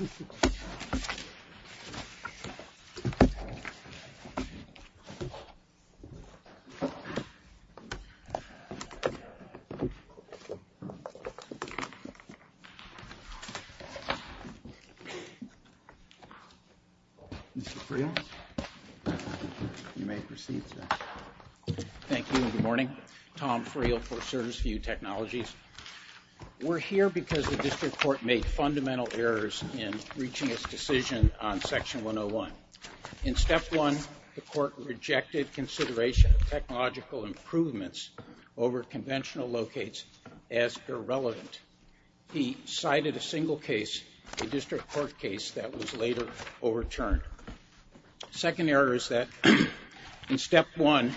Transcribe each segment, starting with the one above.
Mr. Friel, you may proceed, sir. Thank you, and good morning. Tom Friel for Serviceview Technologies. We're here because the district court made fundamental errors in reaching its decision on Section 101. In Step 1, the court rejected consideration of technological improvements over conventional locates as irrelevant. He cited a single case, a district court case, that was later overturned. Second error is that, in Step 1,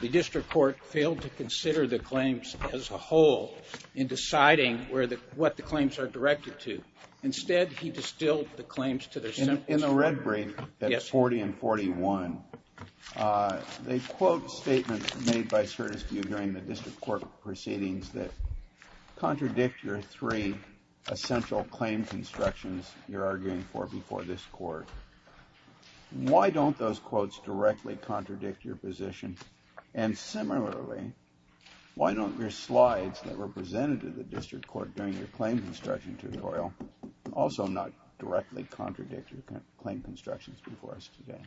the district court failed to consider the claims as a whole in deciding what the claims are directed to. Instead, he distilled the claims to their simplest form. In the red brief, that's 40 and 41, they quote statements made by Serviceview during the district court proceedings that are the essential claim constructions you're arguing for before this court. Why don't those quotes directly contradict your position? And similarly, why don't your slides that were presented to the district court during your claim construction tutorial also not directly contradict your claim constructions before us today?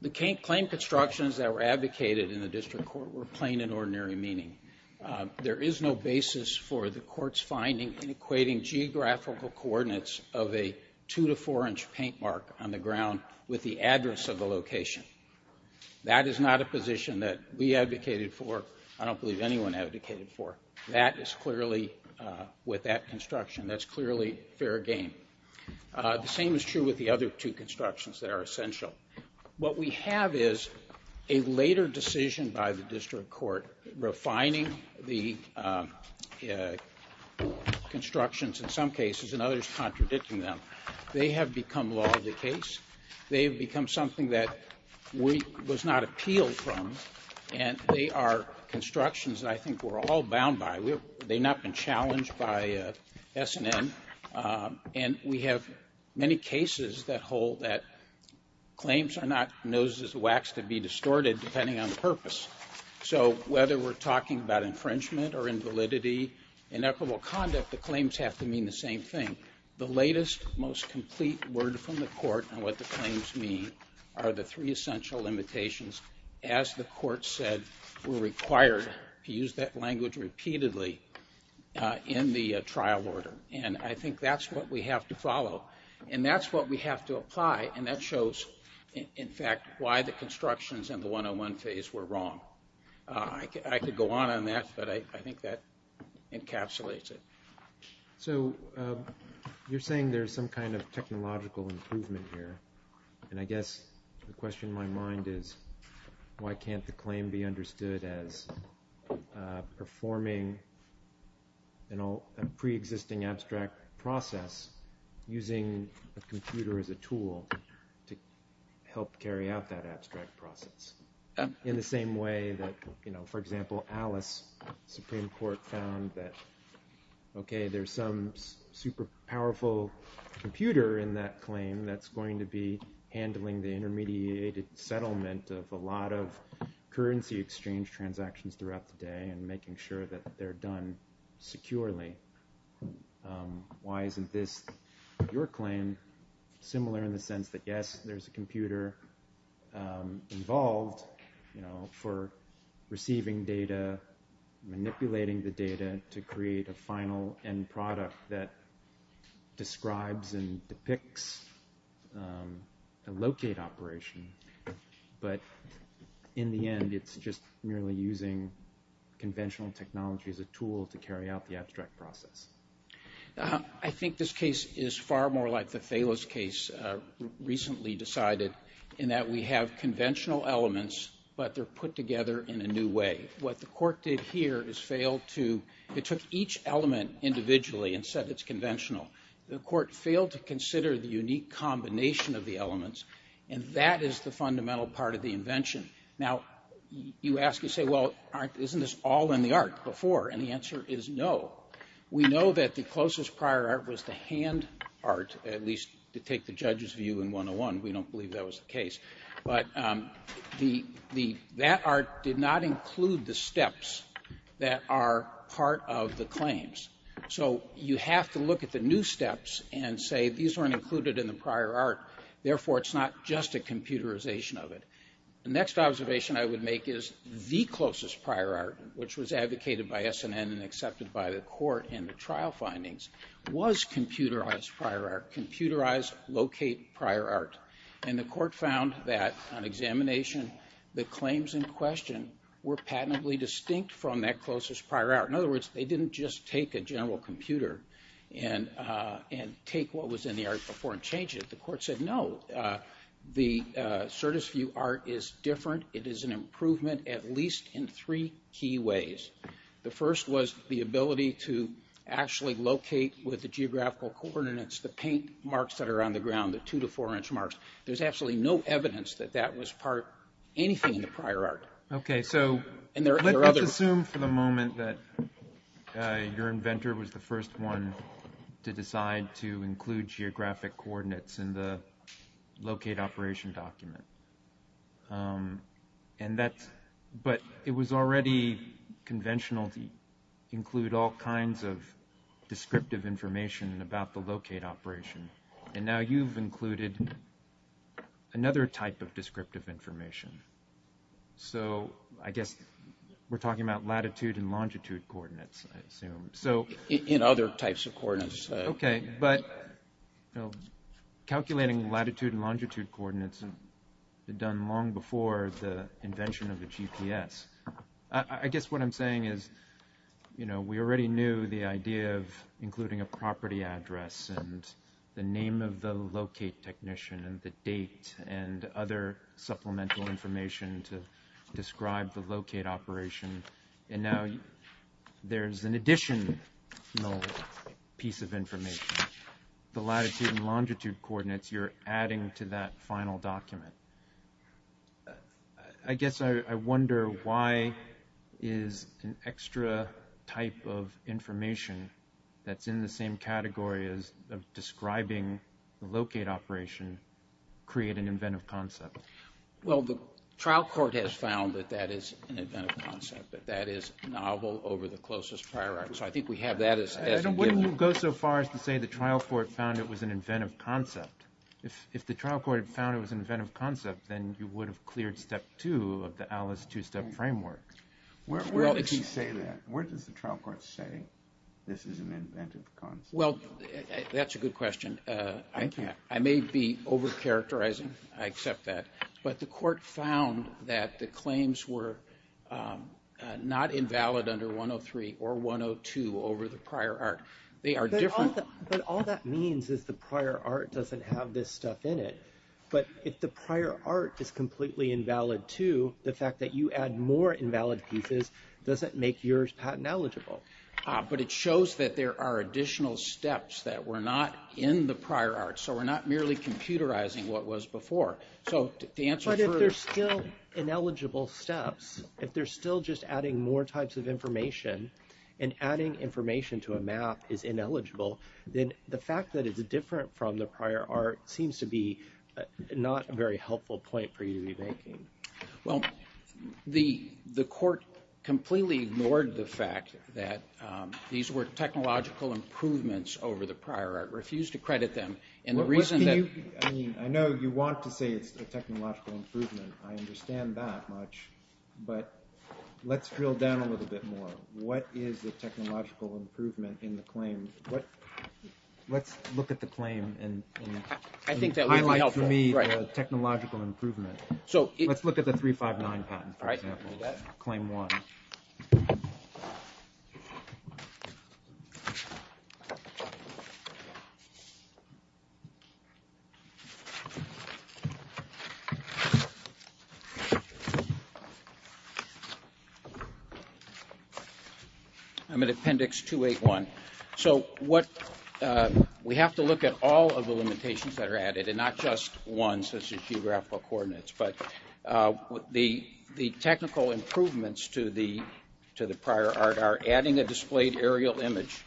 The claim constructions that were advocated in the district court were plain and ordinary meaning. There is no basis for the court's finding and equating geographical coordinates of a two to four inch paint mark on the ground with the address of the location. That is not a position that we advocated for. I don't believe anyone advocated for. That is clearly, with that construction, that's clearly fair game. The same is true with the other two constructions that are essential. What we have is a later decision by the district court refining the constructions in some cases and others contradicting them. They have become law of the case. They've become something that we was not appealed from and they are constructions that I think we're all bound by. They've not been challenged by SNN and we have many cases that hold that claims are not noses waxed and be distorted depending on the purpose. So whether we're talking about infringement or invalidity, inequitable conduct, the claims have to mean the same thing. The latest most complete word from the court on what the claims mean are the three essential limitations as the court said were required to use that language repeatedly in the trial order and I think that's what we have to follow and that's what we have to apply and that shows in fact why the constructions in the 101 phase were wrong. I could go on on that but I think that encapsulates it. So you're saying there's some kind of technological improvement here and I guess the question in my mind is why can't the claim be understood as performing a pre-existing abstract process using a in the same way that you know for example Alice Supreme Court found that okay there's some super powerful computer in that claim that's going to be handling the intermediated settlement of a lot of currency exchange transactions throughout the day and making sure that they're done securely. Why isn't this your claim similar in the sense that yes there's a computer involved you know for receiving data manipulating the data to create a final end product that describes and depicts a locate operation but in the end it's just merely using conventional technology as a tool to carry out the abstract process? I think this case is far more like the Thales case recently decided in that we have conventional elements but they're put together in a new way. What the court did here is failed to it took each element individually and said it's conventional. The court failed to consider the unique combination of the elements and that is the fundamental part of the invention. Now you ask you say well aren't isn't this all in the art before and the we know that the closest prior art was the hand art at least to take the judge's view in 101 we don't believe that was the case but the the that art did not include the steps that are part of the claims so you have to look at the new steps and say these weren't included in the prior art therefore it's not just a computerization of it. The next observation I would make is the closest prior art which was advocated by SNN and accepted by the court and the trial findings was computerized prior art. Computerized locate prior art and the court found that on examination the claims in question were patently distinct from that closest prior art. In other words they didn't just take a general computer and and take what was in the art before and change it. The court said no the certis view art is different it is an improvement at least in three key ways. The first was the ability to actually locate with the geographical coordinates the paint marks that are on the ground the two to four inch marks there's absolutely no evidence that that was part anything in the prior art. Okay so let's assume for the moment that your inventor was the first one to decide to include geographic coordinates in the locate operation document and that's but it was already conventional to include all kinds of descriptive information about the locate operation and now you've included another type of descriptive information. So I guess we're talking about latitude and longitude coordinates I assume. In other types of coordinates done long before the invention of the GPS. I guess what I'm saying is you know we already knew the idea of including a property address and the name of the locate technician and the date and other supplemental information to describe the locate operation and now there's an additional piece of information. The latitude and longitude coordinates you're adding to that final document. I guess I wonder why is an extra type of information that's in the same category as describing locate operation create an inventive concept? Well the trial court has found that that is an inventive concept that that is novel over the closest prior art so I think we have that as a given. I don't want to go so far as to say the trial court found it was an inventive concept then you would have cleared step two of the Alice two-step framework. Where does he say that? Where does the trial court say this is an inventive concept? Well that's a good question. I can't. I may be over characterizing. I accept that but the court found that the claims were not invalid under 103 or 102 over the prior art. They are different. But all that means is the prior art doesn't have this stuff in it. But if the prior art is completely invalid too, the fact that you add more invalid pieces doesn't make yours patent eligible. But it shows that there are additional steps that were not in the prior art so we're not merely computerizing what was before. So the answer... But if there's still ineligible steps, if they're still just adding more types of information and adding information to a map is ineligible then the fact that it's different from the prior art seems to be not a very helpful point for you to be making. Well the the court completely ignored the fact that these were technological improvements over the prior art, refused to credit them and the reason that... I mean I know you want to say it's a technological improvement. I understand that much but let's drill down a little bit more. What is the technological improvement in the claim? What... Let's look at the claim and I think that would be helpful. Highlight for me the technological improvement. So let's look at the 359 patent for example, claim one. I'm at appendix 281. So what we have to look at all of the limitations that are added and not just one such as geographical coordinates but the technical improvements to the prior art are adding a displayed aerial image,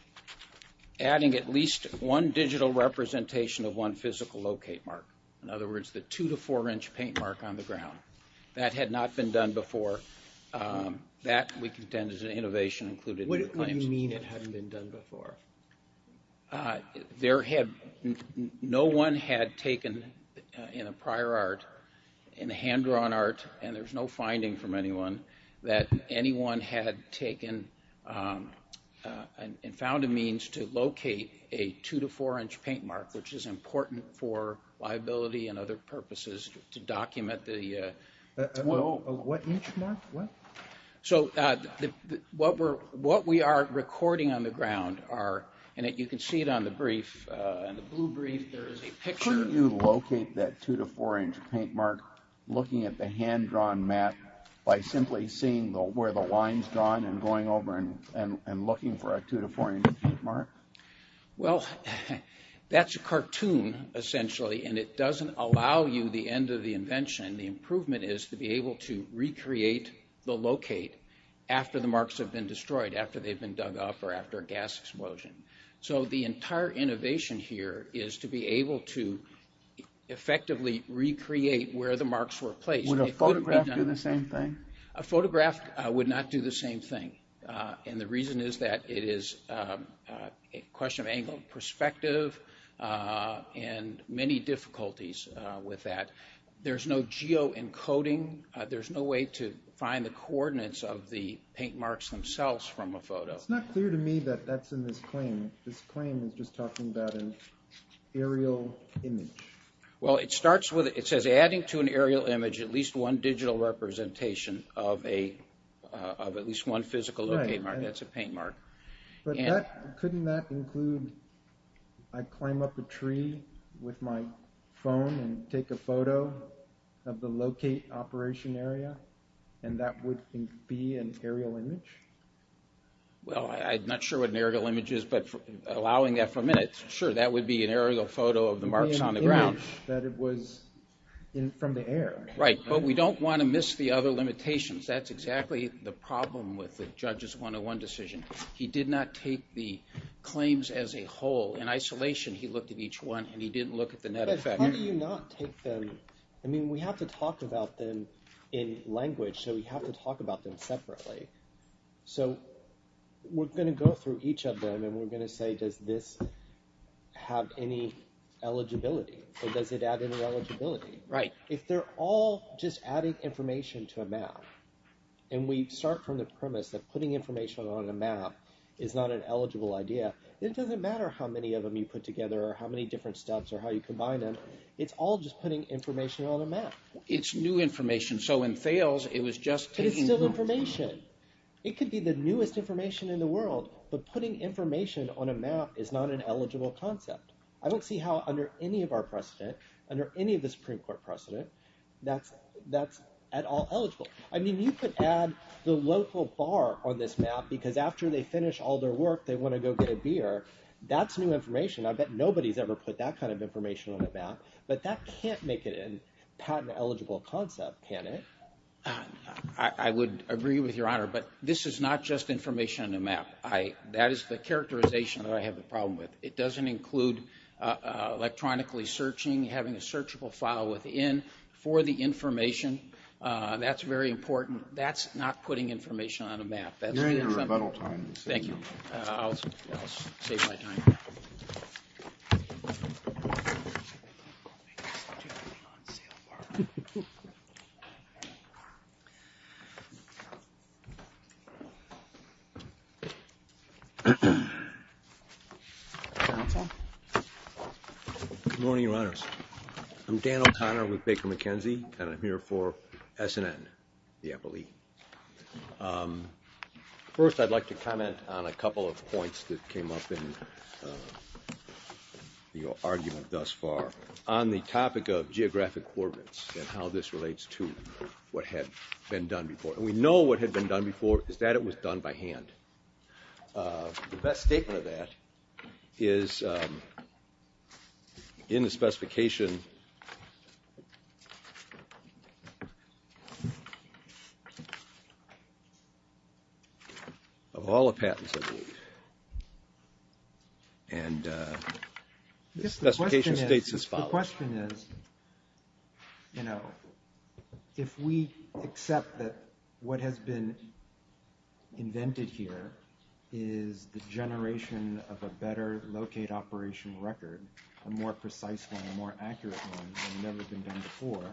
adding at least one digital representation of one physical locate mark. In other words the two to four inch paint mark on the ground. That had not been done before. That we contend is an innovation included. What do you mean it hadn't been done before? There had no one had taken in a prior art, in a hand-drawn art, and there's no finding from anyone, that anyone had taken and found a means to locate a two to four inch paint mark which is important for liability and other purposes to document the... What inch mark? So what we are recording on the ground are, and you can see it on the brief, on the blue brief there is a picture... Could you locate that two to four inch paint mark looking at the hand-drawn map by simply seeing where the lines drawn and going over and looking for a two to four inch paint mark? Well that's a cartoon essentially and it doesn't allow you the end of the invention. The improvement is to be able to recreate the locate after the marks have been destroyed, after they've been dug up, or after a gas explosion. So the entire innovation here is to be able to effectively recreate where the marks were placed. Would a photograph do the same thing? A photograph would not do the same thing. And the reason is that it is a question of angle of perspective and many difficulties with that. There's no geo-encoding, there's no way to find the coordinates of the paint marks themselves from a photo. It's not clear to me that that's in this claim. This claim is just talking about an aerial image. Well it starts with, it says adding to an aerial image at least one digital representation of a of at least one physical locate mark. That's a paint mark. Couldn't that include, I climb up a tree with my phone and take a photo of the locate operation area and that would be an aerial image? Well I'm not sure what an aerial image is, but allowing that for a minute, sure that would be an aerial photo of the marks on the ground. That it was from the air. Right, but we don't want to miss the other limitations. That's exactly the problem with the judges 101 decision. He did not take the claims as a whole in isolation. He looked at each one and he didn't look at the net effect. How do you not take them, I mean we have to talk about them in language so we have to talk about them separately. So we're going to go through each of them and we're going to say does this have any eligibility or does it add any eligibility? Right. If they're all just adding information to a map and we start from the premise that putting information on a map is not an eligible idea, it doesn't matter how many of them you put together or how many different steps or how you combine them, it's all just putting information on a map. It's new information so in fails it was just taking information. It could be the newest information in the world, but putting information on a map is not an eligible concept. I don't see how under any of our precedent, under any of the Supreme Court precedent, that's at all eligible. I mean you could add the local bar on this map because after they finish all their work they want to go get a beer. That's new information. I bet nobody's ever put that kind of information on a map, but that can't make it in patent eligible concept can it? I would agree with your honor, but this is not just information on a map. That is the characterization that I was talking about, having a searchable file within for the information, that's very important. That's not putting information on a map. Good morning, your honors. I'm Dan O'Connor with Baker McKenzie and I'm here for S&N, the Eppley. First I'd like to comment on a couple of points that came up in your argument thus far on the topic of geographic coordinates and how this relates to what had been done before. We know what had been done before is that it was done by hand. The best statement of that is in the specification of all the patents, I believe, and the specification states as follows. The question is, you know, if we accept that what has been invented here is the generation of a better locate operation record, a more precise one, a more accurate one, than never been done before,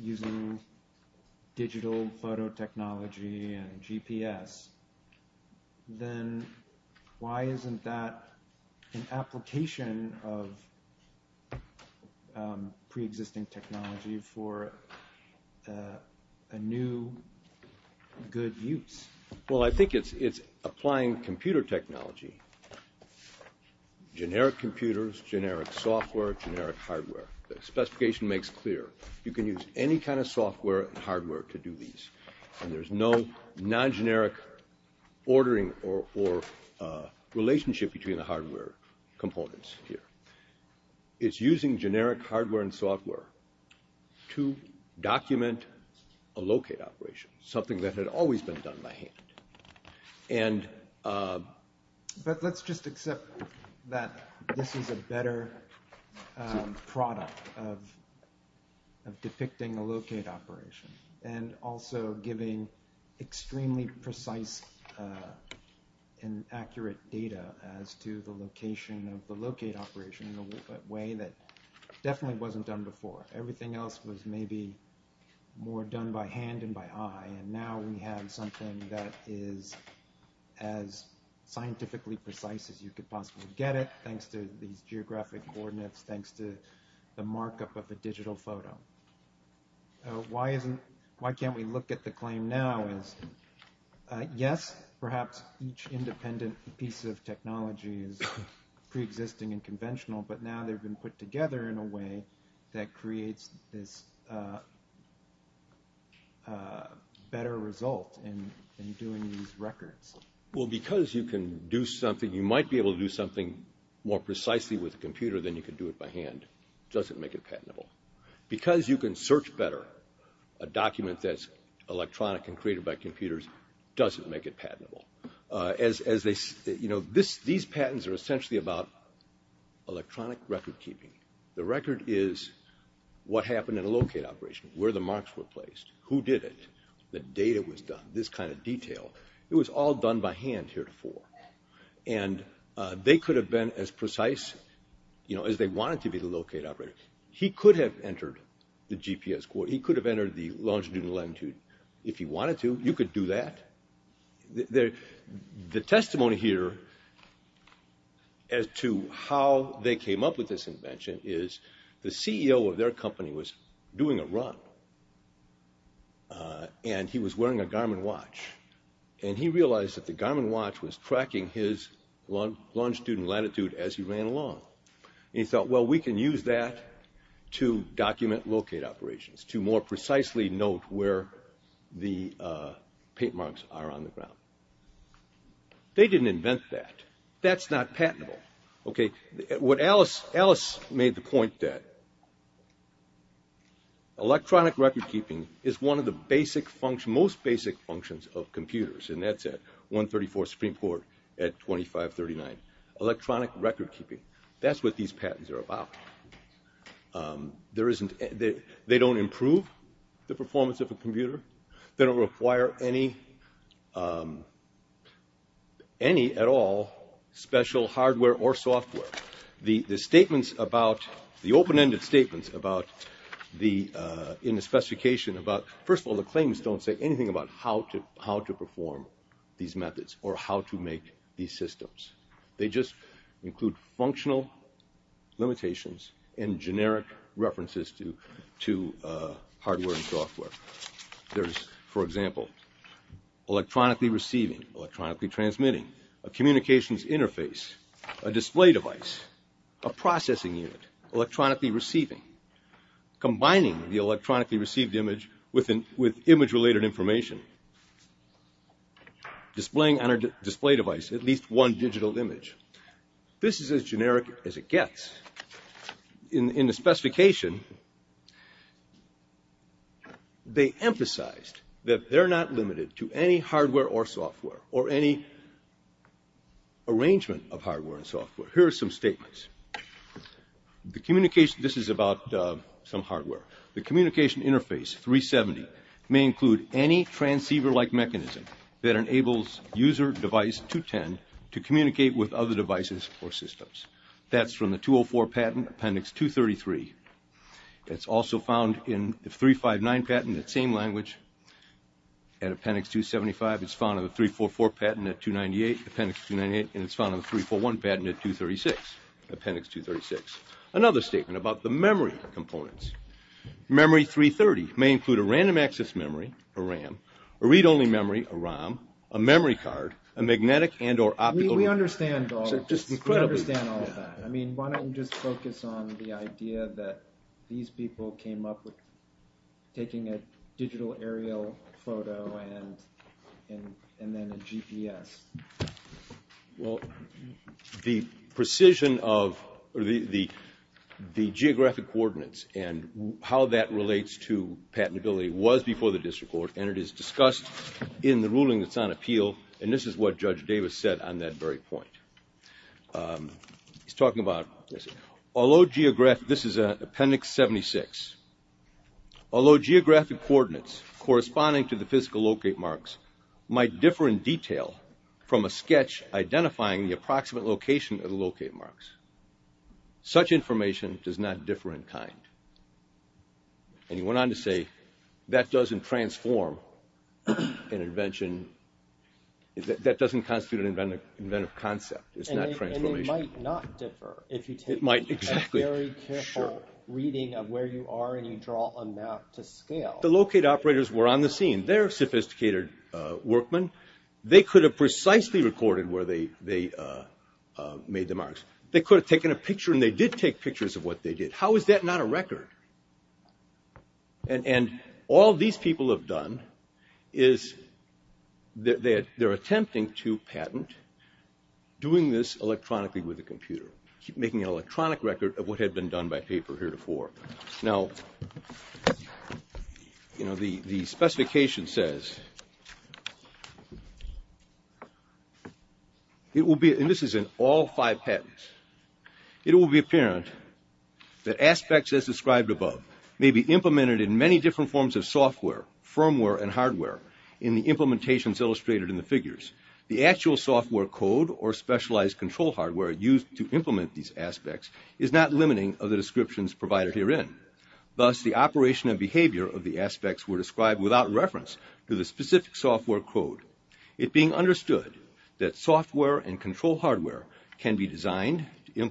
using digital photo technology and GPS, then why isn't that an application of pre-existing technology for a new good use? Well, I think it's applying computer technology. Generic computers, generic software, generic hardware. The specification makes clear. You can use any kind of software and hardware to do these and there's no non-generic ordering or relationship between the hardware components here. It's using generic hardware and software to document a locate operation, something that had always been done by hand. But let's just accept that this is a better product of depicting a locate operation and also giving extremely precise and accurate data as to the location of the locate operation in a way that definitely wasn't done before. Everything else was maybe more done by hand and by eye and now we have something that is as scientifically precise as you could possibly get it, thanks to these geographic coordinates, thanks to the markup of a digital photo. Why can't we look at the process? Yes, perhaps each independent piece of technology is pre-existing and conventional, but now they've been put together in a way that creates this better result in doing these records. Well, because you can do something, you might be able to do something more precisely with a computer than you can do it by hand. It doesn't make it patentable. Because you can search better a computer, it doesn't make it patentable. These patents are essentially about electronic record-keeping. The record is what happened in a locate operation, where the marks were placed, who did it, the data was done, this kind of detail. It was all done by hand heretofore and they could have been as precise as they wanted to be the locate operator. He could have entered the GPS coordinates, he could have entered the longitudinal latitude if he wanted to, you could do that. The testimony here as to how they came up with this invention is the CEO of their company was doing a run and he was wearing a Garmin watch and he realized that the Garmin watch was tracking his longitudinal latitude as he ran along. He thought, well we can use that to document locate operations, to more precisely note where the paint marks are on the ground. They didn't invent that. That's not patentable. Alice made the point that electronic record-keeping is one of the most basic functions of computers and that's at 134 Supreme Court at 2539. Electronic record-keeping, that's what these patents are about. They don't improve the performance of a computer. They don't require any at all special hardware or software. The statements about, the open-ended statements in the specification about, first of all the claims don't say anything about how to perform these methods or how to in generic references to hardware and software. There's, for example, electronically receiving, electronically transmitting, a communications interface, a display device, a processing unit, electronically receiving, combining the electronically received image with image-related information, displaying on a display device at least one digital image. This is as generic as it gets. In the specification, they emphasized that they're not limited to any hardware or software or any arrangement of hardware and software. Here are some statements. The communication, this is about some hardware, the communication interface 370 may include any transceiver-like mechanism that enables user device 210 to communicate with other devices or the 204 patent, appendix 233. It's also found in the 359 patent, that same language, and appendix 275. It's found in the 344 patent at 298, appendix 298, and it's found in the 341 patent at 236, appendix 236. Another statement about the memory components. Memory 330 may include a random access memory, a RAM, a read-only memory, a ROM, a memory card, a magnetic and or optical. We understand all of that. I mean, why don't you just focus on the idea that these people came up with taking a digital aerial photo and then a GPS? Well, the precision of the geographic coordinates and how that relates to patentability was before the district court, and it is discussed in the ruling that's on appeal, and this is what Judge Davis said on that very point. He's talking about, this is appendix 76. Although geographic coordinates corresponding to the physical locate marks might differ in detail from a sketch identifying the approximate location of the locate marks, such information does not differ in kind. And that doesn't constitute an inventive concept. It's not transformation. And it might not differ if you take a very careful reading of where you are and you draw a map to scale. The locate operators were on the scene. They're sophisticated workmen. They could have precisely recorded where they made the marks. They could have taken a picture, and they did take pictures of what they did. How is that not a record? And all these people have done is that they're attempting to patent doing this electronically with a computer, making an electronic record of what had been done by paper heretofore. Now, you know, the specification says it will be, and this is in all five patents, it will be apparent that aspects as described above may be implemented in many different forms of software, firmware, and hardware in the implementations illustrated in the figures. The actual software code or specialized control hardware used to implement these aspects is not limiting of the descriptions provided herein. Thus, the operation and behavior of the aspects were described without reference to the specific software code. It being hardware that will do this, you can write software that will do this, and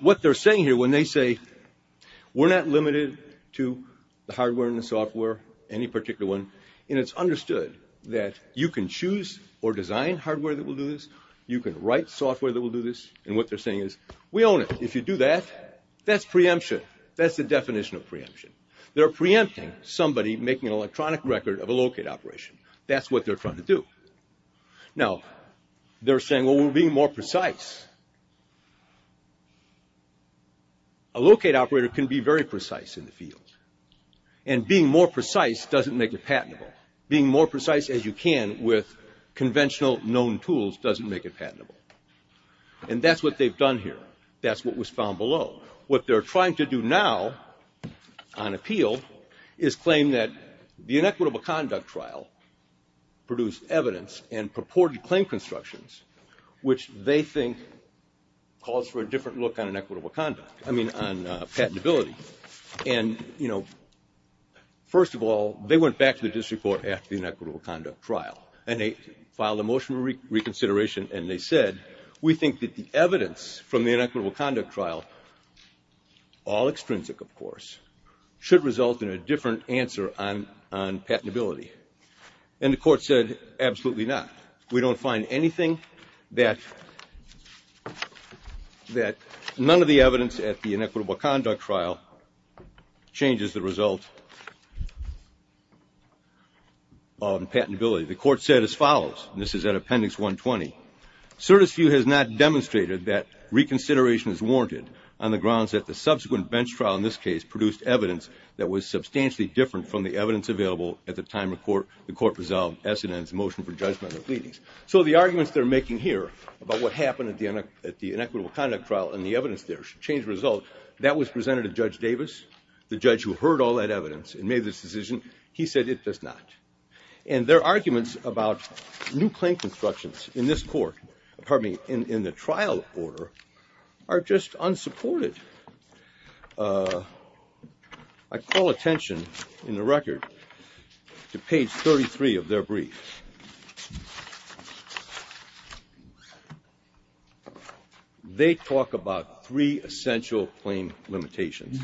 what they're saying is, we own it. If you do that, that's preemption. That's the definition of preemption. They're preempting somebody making an electronic record of a locate operation. That's what they're trying to do. Now, they're saying, well, we'll be more precise. A locate operator can be very precise in the field, and being more precise doesn't make it patentable. Being more precise as you can with conventional known tools doesn't make it patentable. And that's what they've done here. That's what was found below. What they're trying to do now on appeal is claim that the inequitable conduct trial produced evidence and purported claim constructions, which they think calls for a different look on equitable conduct, I mean, on patentability. And, you know, first of all, they went back to the district court after the inequitable conduct trial, and they filed a motion reconsideration, and they said, we think that the evidence from the inequitable conduct trial, all extrinsic, of course, should result in a different answer on patentability. And the court said, absolutely not. We don't find anything that none of the evidence at the inequitable conduct trial changes the result on patentability. The court said as follows, and this is at Appendix 120, certis view has not demonstrated that reconsideration is warranted on the grounds that the subsequent bench trial in this case produced evidence that was substantially different from the evidence available at the time the court resolved Essendon's motion for judgment of pleadings. So the arguments they're making here about what happened at the inequitable conduct trial and the evidence there should change the result, that was presented to Judge Davis, the judge who heard all that evidence and made this decision. He said it does not. And their arguments about new claim constructions in this court, pardon me, in the trial order are just unsupported. I call attention in the record to page 33 of their brief. They talk about three essential claim limitations.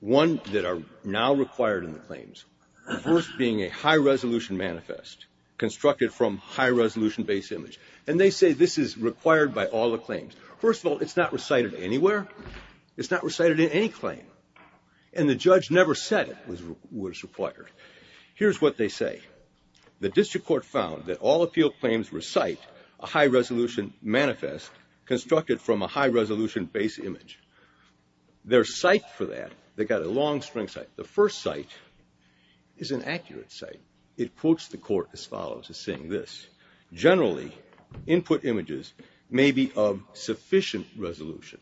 One that are now required in the claims. The first being a high-resolution manifest constructed from high-resolution base image. And they say this is required by all the claims. First of all, it's not recited anywhere. It's not recited in any claim. And the judge never said it was required. Here's what they say. The district court found that all appeal claims recite a high-resolution manifest constructed from a high-resolution base image. Their cite for that, they got a long string of cite. The first cite is an accurate cite. It quotes the court as follows, as saying this, generally input images may be of sufficient resolution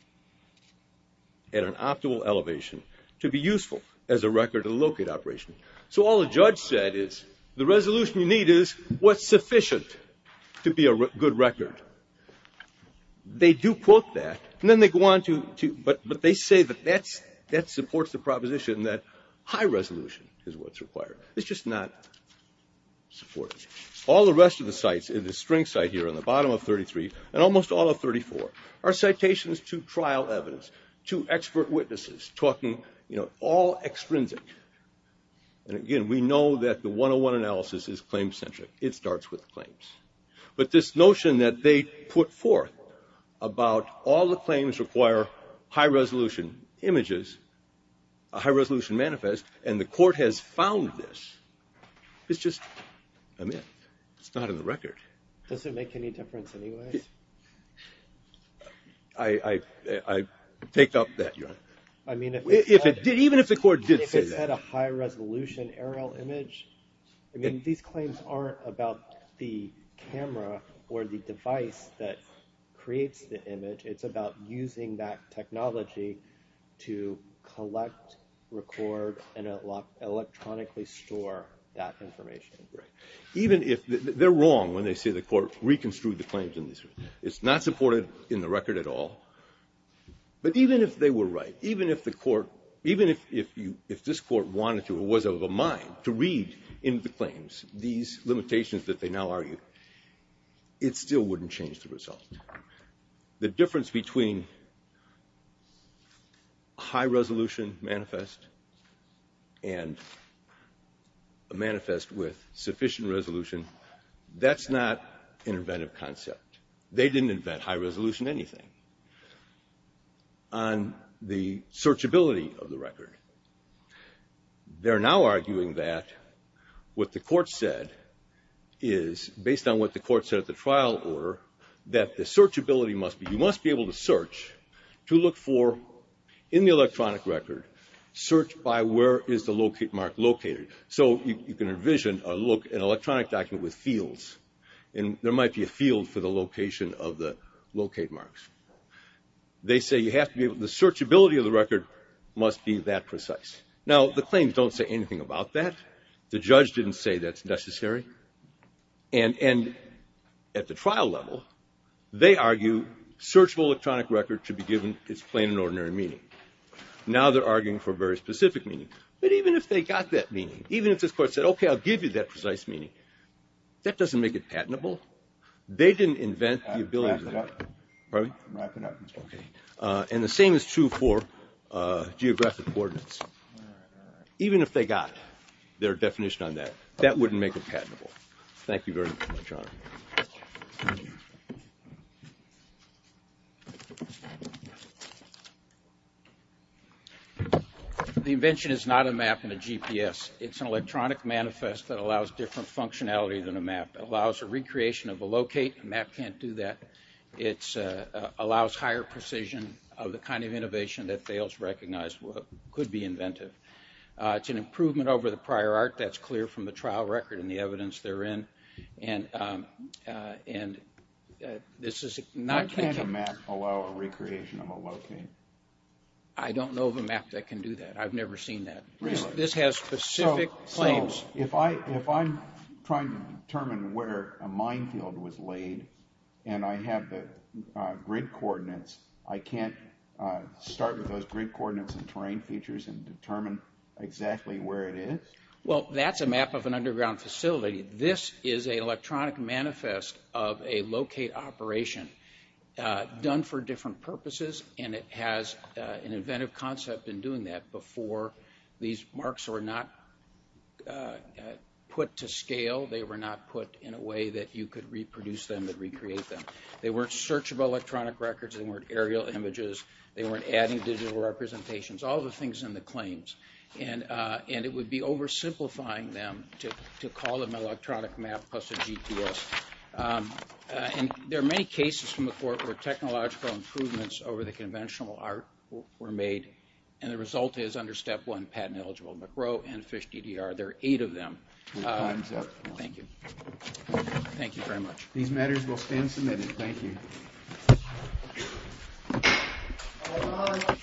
at an optimal elevation to be useful as a record to locate operation. So all the judge said is the resolution you need is what's sufficient to be a good record. They do quote that and then they go on to, but they say that that supports the proposition that high-resolution is what's required. It's just not supported. All the rest of the cites in the string cite here in the bottom of 33 and almost all of 34 are citations to trial evidence to expert witnesses talking, you know, all extrinsic. And again, we know that the 101 analysis is claim-centric. It starts with claims. But this notion that they put forth about all the claims require high-resolution images, a high-resolution manifest, and the court has found this, it's just a myth. It's not in the record. Does it make any difference anyway? I take up that. I mean, if it did, even if the court did say that. If it said a high-resolution aerial image, I mean, these claims aren't about the camera or the device that creates the image. It's about using that technology to collect, record, and electronically store that information. Right. Even if they're wrong when they say the court reconstrued the claims in this. It's not supported in the record at all. But even if they were right, even if the court, even if this court wanted to or was of a mind to read in the publications that they now argue, it still wouldn't change the result. The difference between a high-resolution manifest and a manifest with sufficient resolution, that's not an inventive concept. They didn't invent high-resolution anything. On the searchability of the record, they're now arguing that what the court said is, based on what the court said at the trial order, that the searchability must be, you must be able to search to look for, in the electronic record, search by where is the locate mark located. So you can envision an electronic document with fields, and there might be a field for the location of the locate marks. They say you have to be able, the searchability of the record must be that precise. Now the claims don't say anything about that. The judge didn't say that's necessary. And at the trial level, they argue searchable electronic record should be given its plain and ordinary meaning. Now they're arguing for very specific meaning. But even if they got that meaning, even if this court said okay I'll give you that precise meaning, that doesn't make it patentable. They didn't invent the ability of that. And the same is true for geographic coordinates. Even if they got their definition on that, that wouldn't make it patentable. Thank you very much, John. The invention is not a map in a GPS. It's an electronic manifest that allows different functionality than a map. It allows a recreation of a locate. A map can't do that. It allows higher precision of the kind of innovation that fails recognize what could be inventive. It's an improvement over the prior art that's clear from the trial record and the evidence they're in. And this is not... Why can't a map allow a recreation of a locate? I don't know of a map that can do that. I've been trying to determine where a minefield was laid and I have the grid coordinates. I can't start with those grid coordinates and terrain features and determine exactly where it is? Well that's a map of an underground facility. This is an electronic manifest of a locate operation done for different purposes and it has an inventive concept in doing that before these marks are not put to scale. They were not put in a way that you could reproduce them and recreate them. They weren't searchable electronic records. They weren't aerial images. They weren't adding digital representations. All the things in the claims. And it would be oversimplifying them to call them an electronic map plus a GPS. And there are many cases from the court where technological improvements over the conventional art were made and the result is under step one patent-eligible McRow and FishDDR. There are eight of them. Thank you. Thank you very much. These matters will stand submitted. Thank you.